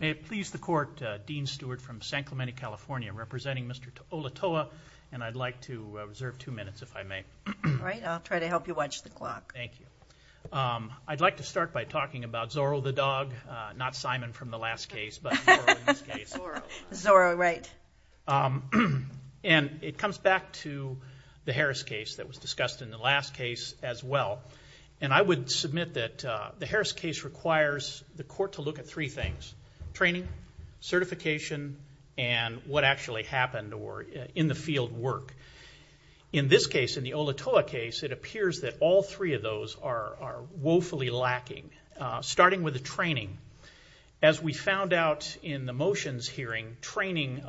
May it please the court, Dean Stewart from San Clemente, California, representing Mr. Olotoa, and I'd like to reserve two minutes, if I may. All right, I'll try to help you watch the clock. Thank you. I'd like to start by talking about Zorro the dog, not Simon from the last case, but Zorro in this case. Zorro, right. And it comes back to the Harris case that was discussed in the last case as well, and I would submit that the Harris case requires the court to look at three things, training, certification, and what actually happened or in the field work. In this case, in the Olotoa case, it appears that all three of those are woefully lacking, starting with the training. As we found out in the motions hearing, training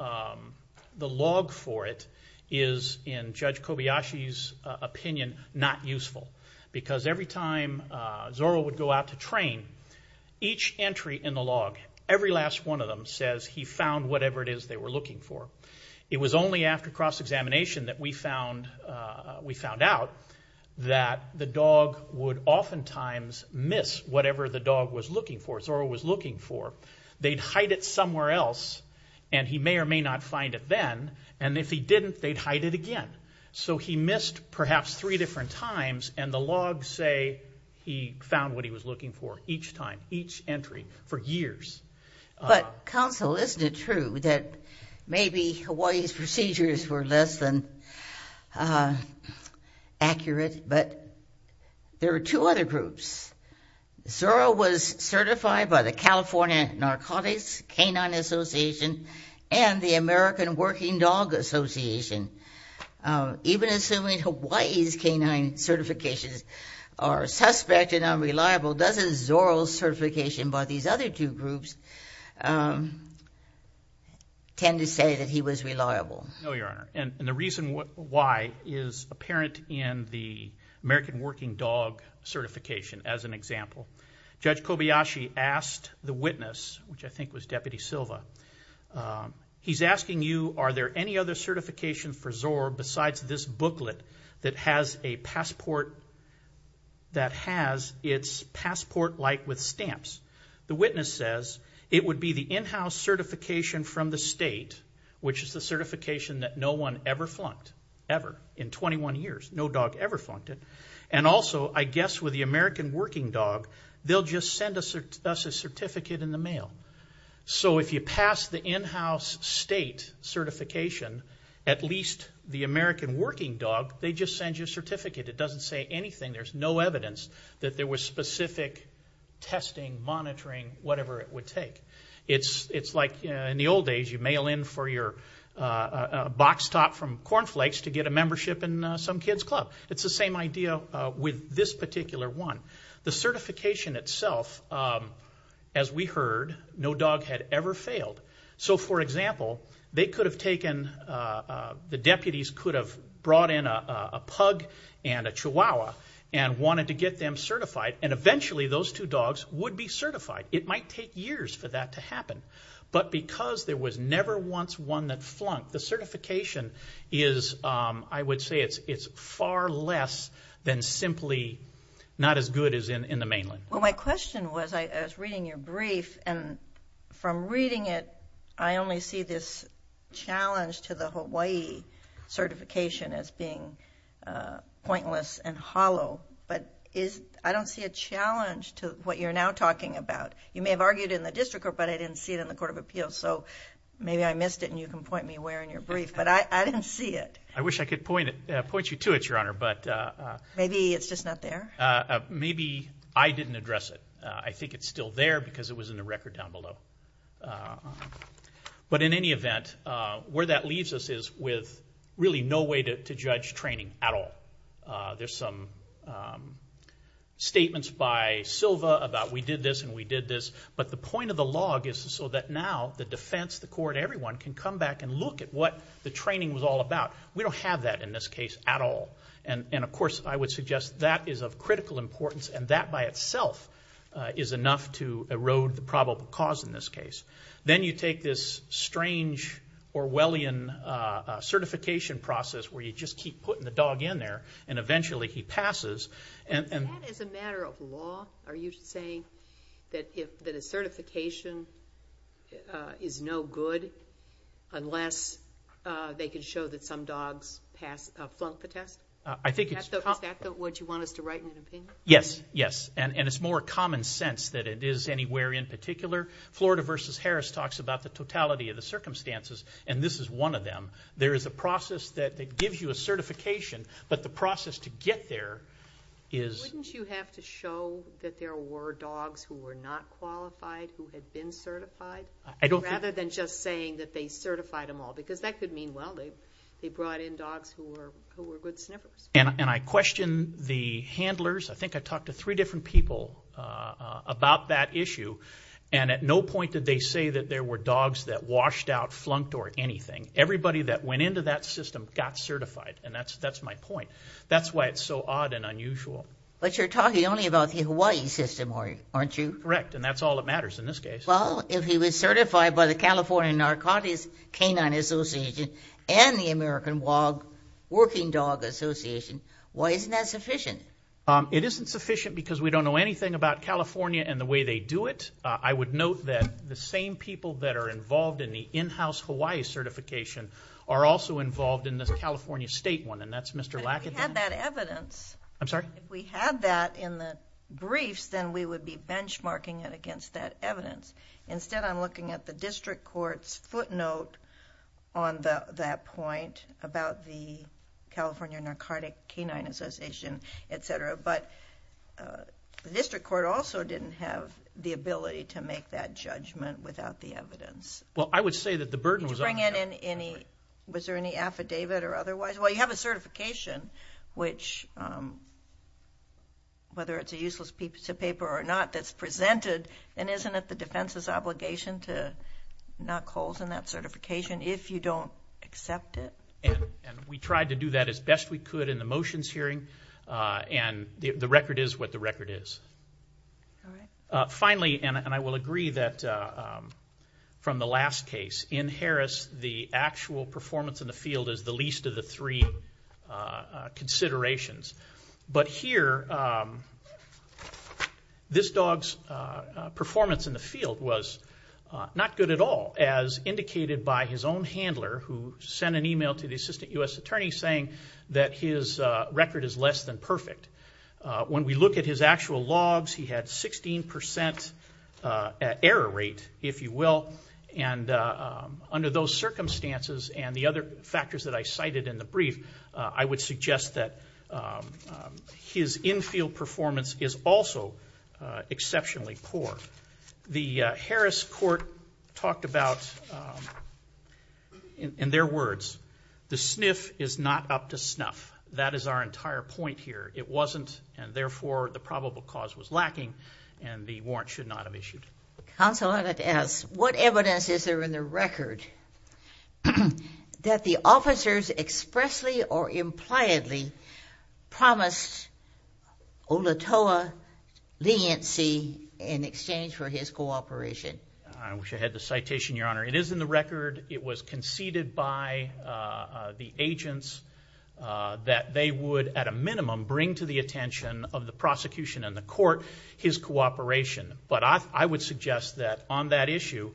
the log for it is, in Judge Kobayashi's opinion, not useful, because every time Zorro would go out to train, each entry in the log, every last one of them says he found whatever it is they were looking for. It was only after cross-examination that we found out that the dog would oftentimes miss whatever the dog was looking for, Zorro was looking for. They'd hide it somewhere else, and he may or may not find it then, and if he didn't, they'd hide it again. So he missed perhaps three different times, and the logs say he found what he was looking for, each time, each entry, for years. But counsel, isn't it true that maybe Hawaii's procedures were less than accurate, but there were two other groups. Zorro was certified by the California Narcotics Canine Association and the American Working Dog Association. Even assuming Hawaii's canine certifications are suspect and unreliable, doesn't Zorro's certification by these other two groups tend to say that he was reliable? No, Your Honor, and the reason why is apparent in the American Working Dog certification, as an example. Judge Kobayashi asked the witness, which I think was Deputy Silva, he's asking you, are there any other certifications for Zorro besides this booklet that has its passport like with stamps? The witness says it would be the in-house certification from the state, which is the certification that no one ever flunked, ever, in 21 years. No dog ever flunked it. And also, I guess with the American Working Dog, they'll just send us a certificate in the mail. So if you pass the in-house state certification, at least the American Working Dog, they just send you a certificate. It doesn't say anything. There's no evidence that there was specific testing, monitoring, whatever it would take. It's like in the old days, you'd mail in for your box top from Corn Flakes to get a membership in some kid's club. It's the same idea with this particular one. The certification itself, as we heard, no dog had ever failed. So for example, they could have taken, the deputies could have brought in a pug and a chihuahua and wanted to get them certified. And eventually, those two dogs would be certified. It might take years for that to happen. But because there was never once one that flunked, the certification is, I would say, it's far less than simply not as good as in the mainland. Well, my question was, I was reading your brief, and from reading it, I only see this challenge to the Hawaii certification as being pointless and hollow. But I don't see a challenge to what you're now talking about. You may have argued in the district court, but I didn't see it in the Court of Appeals. So maybe I missed it, and you can point me where in your brief. But I didn't see it. I wish I could point you to it, Your Honor. Maybe it's just not there? Maybe I didn't address it. I think it's still there because it was in the record down below. But in any event, where that leaves us is with really no way to judge training at all. There's some statements by Silva about we did this and we did this. But the point of the log is so that now the defense, the court, everyone can come back and look at what the training was all about. We don't have that in this case at all. And of course, I would suggest that is of critical importance, and that by itself is enough to erode the probable cause in this case. Then you take this strange Orwellian certification process where you just keep putting the dog in there, and eventually he passes. Is that as a matter of law? Are you saying that a certification is no good unless they can show that some dogs flunk the test? Is that what you want us to write in an opinion? Yes, and it's more common sense that it is anywhere in particular. Florida v. Harris talks about the totality of the circumstances, and this is one of them. There is a process that gives you a certification, but the process to get there is... Wouldn't you have to show that there were dogs who were not qualified, who had been certified, rather than just saying that they certified them all? Because that could mean, well, they brought in dogs who were good sniffers. And I question the handlers. I think I talked to three different people about that issue, and at no point did they say that there were dogs that washed out, flunked, or anything. Everybody that went into that system got certified, and that's my point. That's why it's so odd and unusual. But you're talking only about the Hawaii system, aren't you? Correct, and that's all that matters in this case. Well, if he was certified by the California Narcotics Canine Association and the American Working Dog Association, why isn't that sufficient? It isn't sufficient because we don't know anything about California and the way they do it. I would note that the same people that are involved in the in-house Hawaii certification are also involved in this California state one, and that's Mr. Lackadance. But if we had that evidence... I'm sorry? If we had that in the briefs, then we would be benchmarking it against that evidence. Instead, I'm looking at the district court's footnote on that point about the California Narcotic Canine Association, etc. But the district court also didn't have the ability to make that judgment without the evidence. Well, I would say that the burden was on... Was there any affidavit or otherwise? Well, you have a certification which, whether it's a useless piece of paper or not, that's presented, and isn't it the defense's obligation to knock holes in that certification if you don't accept it? And we tried to do that as best we could in the motions hearing, and the record is what the record is. All right. Finally, and I will agree that from the last case, in Harris, the actual performance in the field is the least of the three considerations. But here, this dog's performance in the field was not good at all, as indicated by his own handler, who sent an email to the assistant U.S. attorney saying that his record is less than perfect. When we look at his actual logs, he had 16% error rate, if you will, and under those circumstances and the other factors that I cited in the brief, I would suggest that his infield performance is also exceptionally poor. The Harris court talked about, in their words, the sniff is not up to snuff. That is our entire point here. It wasn't, and therefore, the probable cause was lacking, and the warrant should not have issued. Counsel, I'd like to ask, what evidence is there in the record that the officers expressly or impliedly promised Olatowo leniency in exchange for his cooperation? I wish I had the citation, Your Honor. It is in the record. It was conceded by the agents that they would, at a minimum, bring to the attention of the prosecution and the court his cooperation. But I would suggest that on that issue,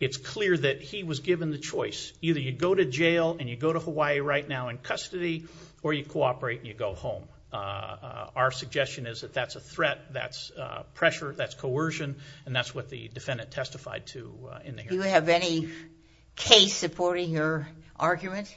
it's clear that he was given the choice. Either you go to jail and you go to Hawaii right now in custody, or you cooperate and you go home. Our suggestion is that that's a threat, that's pressure, that's coercion, and that's what the defendant testified to in the hearing. Do you have any case supporting your argument?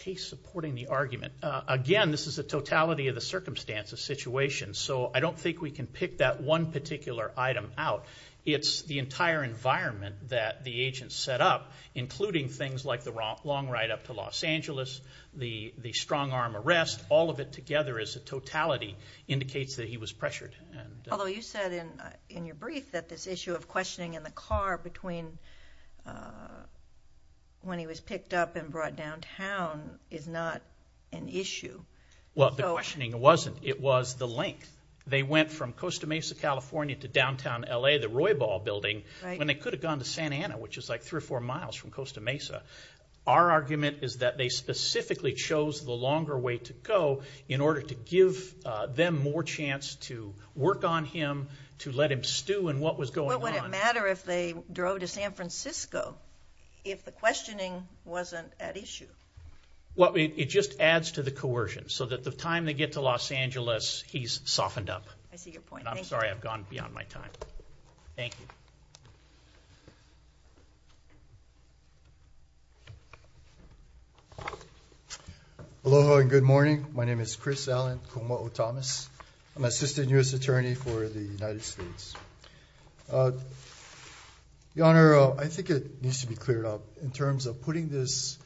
Case supporting the argument? Again, this is a totality of the circumstances situation, so I don't think we can pick that one particular item out. It's the entire environment that the agents set up, including things like the long ride up to Los Angeles, the strong-arm arrest. All of it together as a totality indicates that he was pressured. Although you said in your brief that this issue of questioning in the car between when he was picked up and brought downtown is not an issue. Well, the questioning wasn't. It was the length. They went from Costa Mesa, California, to downtown LA, the Roybal building, when they could have gone to Santa Ana, which is like three or four miles from Costa Mesa. Our argument is that they specifically chose the longer way to go in order to give them more chance to work on him, to let him stew in what was going on. What would it matter if they drove to San Francisco if the questioning wasn't at issue? Well, it just adds to the coercion, so that the time they get to Los Angeles, he's softened up. I see your point. I'm sorry I've gone beyond my time. Thank you. Aloha and good morning. My name is Chris Allen Kuma'o Thomas. I'm Assistant U.S. Attorney for the United States. Your Honor, I think it needs to be cleared up in terms of putting this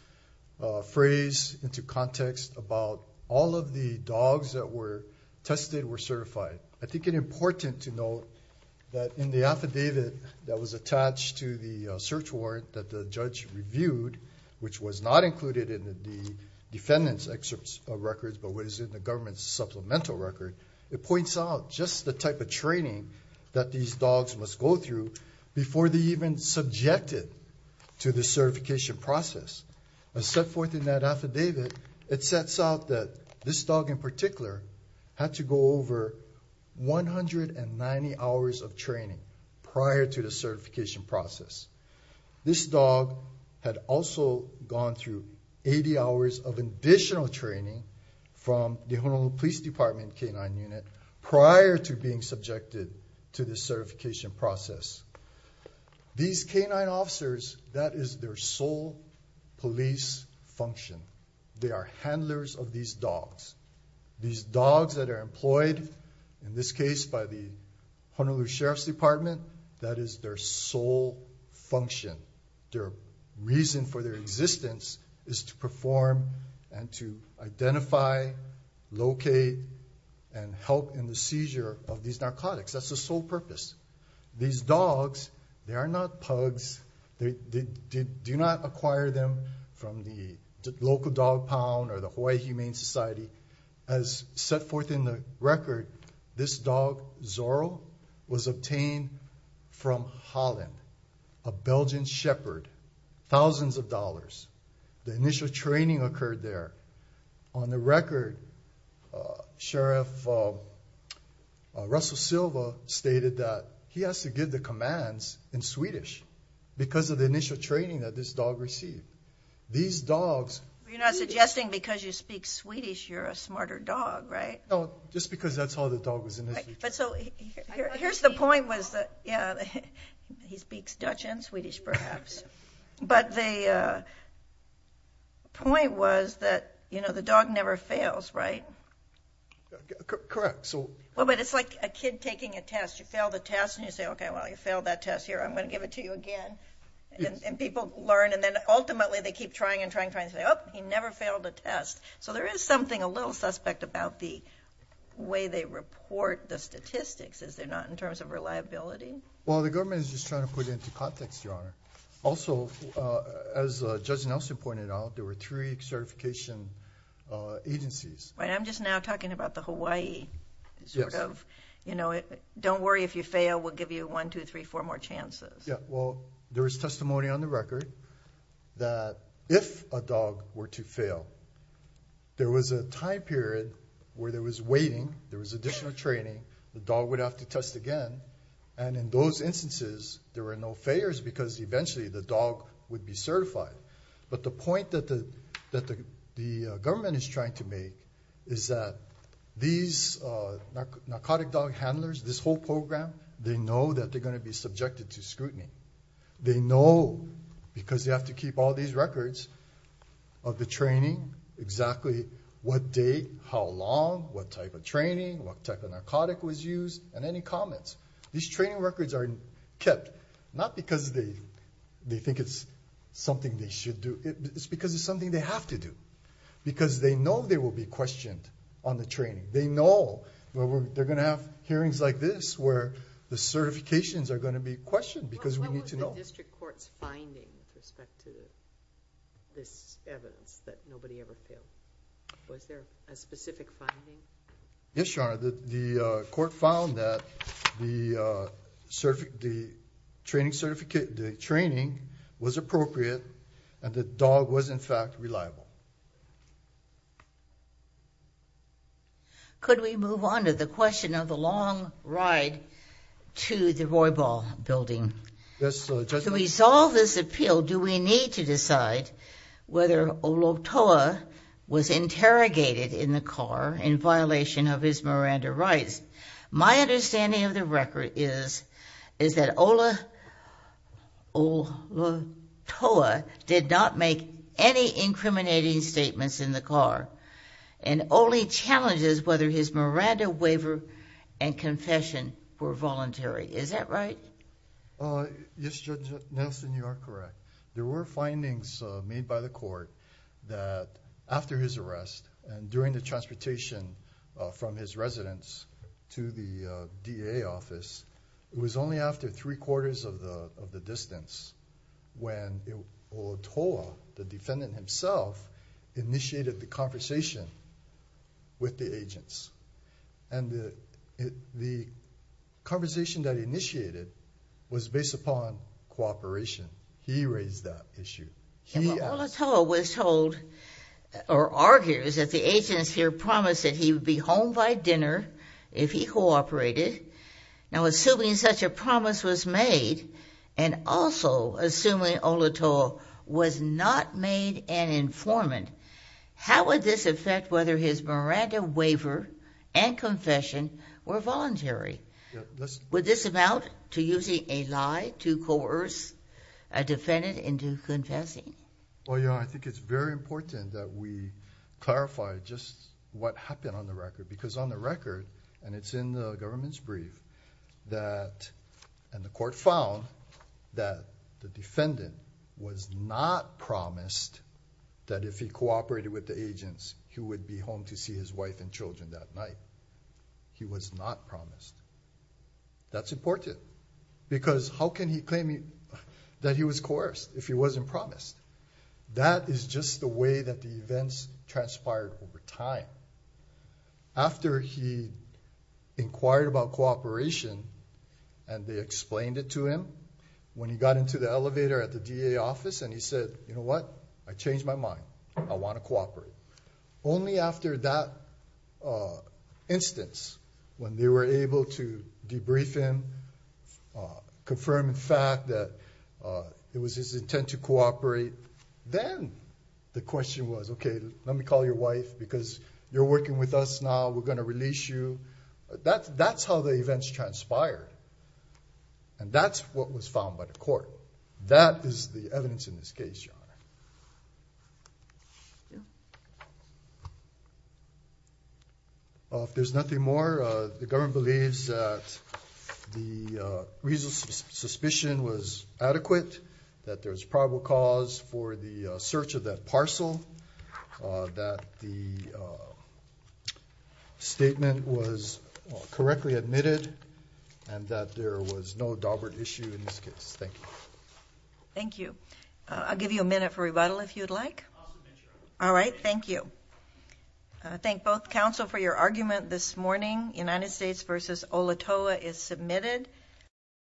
phrase into context about all of the dogs that were tested were certified. I think it's important to note that in the affidavit that was attached to the search warrant that the judge reviewed, which was not included in the defendant's records, but was in the government's supplemental record, it points out just the type of training that these dogs must go through before they're even subjected to the certification process. As set forth in that affidavit, it sets out that this dog in particular had to go over 190 hours of training prior to the certification process. This dog had also gone through 80 hours of additional training from the Honolulu Police Department K-9 unit prior to being subjected to the certification process. These K-9 officers, that is their sole police function. They are handlers of these dogs. These dogs that are employed, in this case by the Honolulu Sheriff's Department, that is their sole function. Their reason for their existence is to perform and to identify, locate, and help in the seizure of these narcotics. That's their sole purpose. These dogs, they are not pugs. They do not acquire them from the local dog pound or the Hawaii Humane Society. As set forth in the record, this dog, Zorro, was obtained from Holland, a Belgian shepherd, thousands of dollars. The initial training occurred there. On the record, Sheriff Russell Silva stated that he has to give the commands in Swedish because of the initial training that this dog received. These dogs... You're not suggesting because you speak Swedish, you're a smarter dog, right? No, just because that's how the dog was initially trained. Here's the point. He speaks Dutch and Swedish, perhaps. But the point was that the dog never fails, right? Correct. Well, but it's like a kid taking a test. You fail the test and you say, okay, well, you failed that test. Here, I'm going to give it to you again. And people learn, and then ultimately they keep trying and trying and trying. They say, oh, he never failed a test. So there is something a little suspect about the way they report the statistics, is there not, in terms of reliability? Well, the government is just trying to put it into context, Your Honor. Also, as Judge Nelson pointed out, there were three certification agencies. I'm just now talking about the Hawaii sort of, you know, don't worry if you fail, we'll give you one, two, three, four more chances. Yeah, well, there is testimony on the record that if a dog were to fail, there was a time period where there was waiting, there was additional training, the dog would have to test again. And in those instances, there were no failures because eventually the dog would be certified. But the point that the government is trying to make is that these narcotic dog handlers, this whole program, they know that they're going to be subjected to scrutiny. They know because they have to keep all these records of the training, exactly what date, how long, what type of training, what type of narcotic was used, and any comments. These training records are kept not because they think it's something they should do, it's because it's something they have to do. Because they know they will be questioned on the training. They know they're going to have hearings like this where the certifications are going to be questioned because we need to know. What was the district court's finding with respect to this evidence that nobody ever failed? Was there a specific finding? Yes, Your Honor, the court found that the training was appropriate and the dog was, in fact, reliable. Could we move on to the question of the long ride to the Roybal building? Yes, Your Honor. To resolve this appeal, do we need to decide whether Olotoa was interrogated in the car in violation of his Miranda rights? My understanding of the record is that Olotoa did not make any incriminating statements in the car and only challenges whether his Miranda waiver and confession were voluntary. Is that right? Yes, Judge Nelson, you are correct. There were findings made by the court that after his arrest and during the transportation from his residence to the DA office, it was only after three quarters of the distance when Olotoa, the defendant himself, initiated the conversation with the agents. And the conversation that he initiated was based upon cooperation. He raised that issue. Olotoa was told or argues that the agents here promised that he would be home by dinner if he cooperated. Now, assuming such a promise was made and also assuming Olotoa was not made an informant, how would this affect whether his Miranda waiver and confession were voluntary? Would this amount to using a lie to coerce a defendant into confessing? Well, Your Honor, I think it's very important that we clarify just what happened on the record and it's in the government's brief that... And the court found that the defendant was not promised that if he cooperated with the agents, he would be home to see his wife and children that night. He was not promised. That's important because how can he claim that he was coerced if he wasn't promised? That is just the way that the events transpired over time. After he inquired about cooperation and they explained it to him, when he got into the elevator at the DA office and he said, you know what? I changed my mind. I want to cooperate. Only after that instance, when they were able to debrief him, confirm the fact that it was his intent to cooperate, then the question was, okay, let me call your wife because you're working with us now. We're going to release you. That's how the events transpired. And that's what was found by the court. That is the evidence in this case, Your Honor. If there's nothing more, the government believes that the reasonable suspicion was adequate, that there's probable cause for the search of that parcel, that the statement was correctly admitted, and that there was no dauber issue in this case. Thank you. Thank you. I'll give you a minute for rebuttal if you'd like. I'll submit your argument. All right, thank you. I thank both counsel for your argument this morning. United States v. Olatoa is submitted.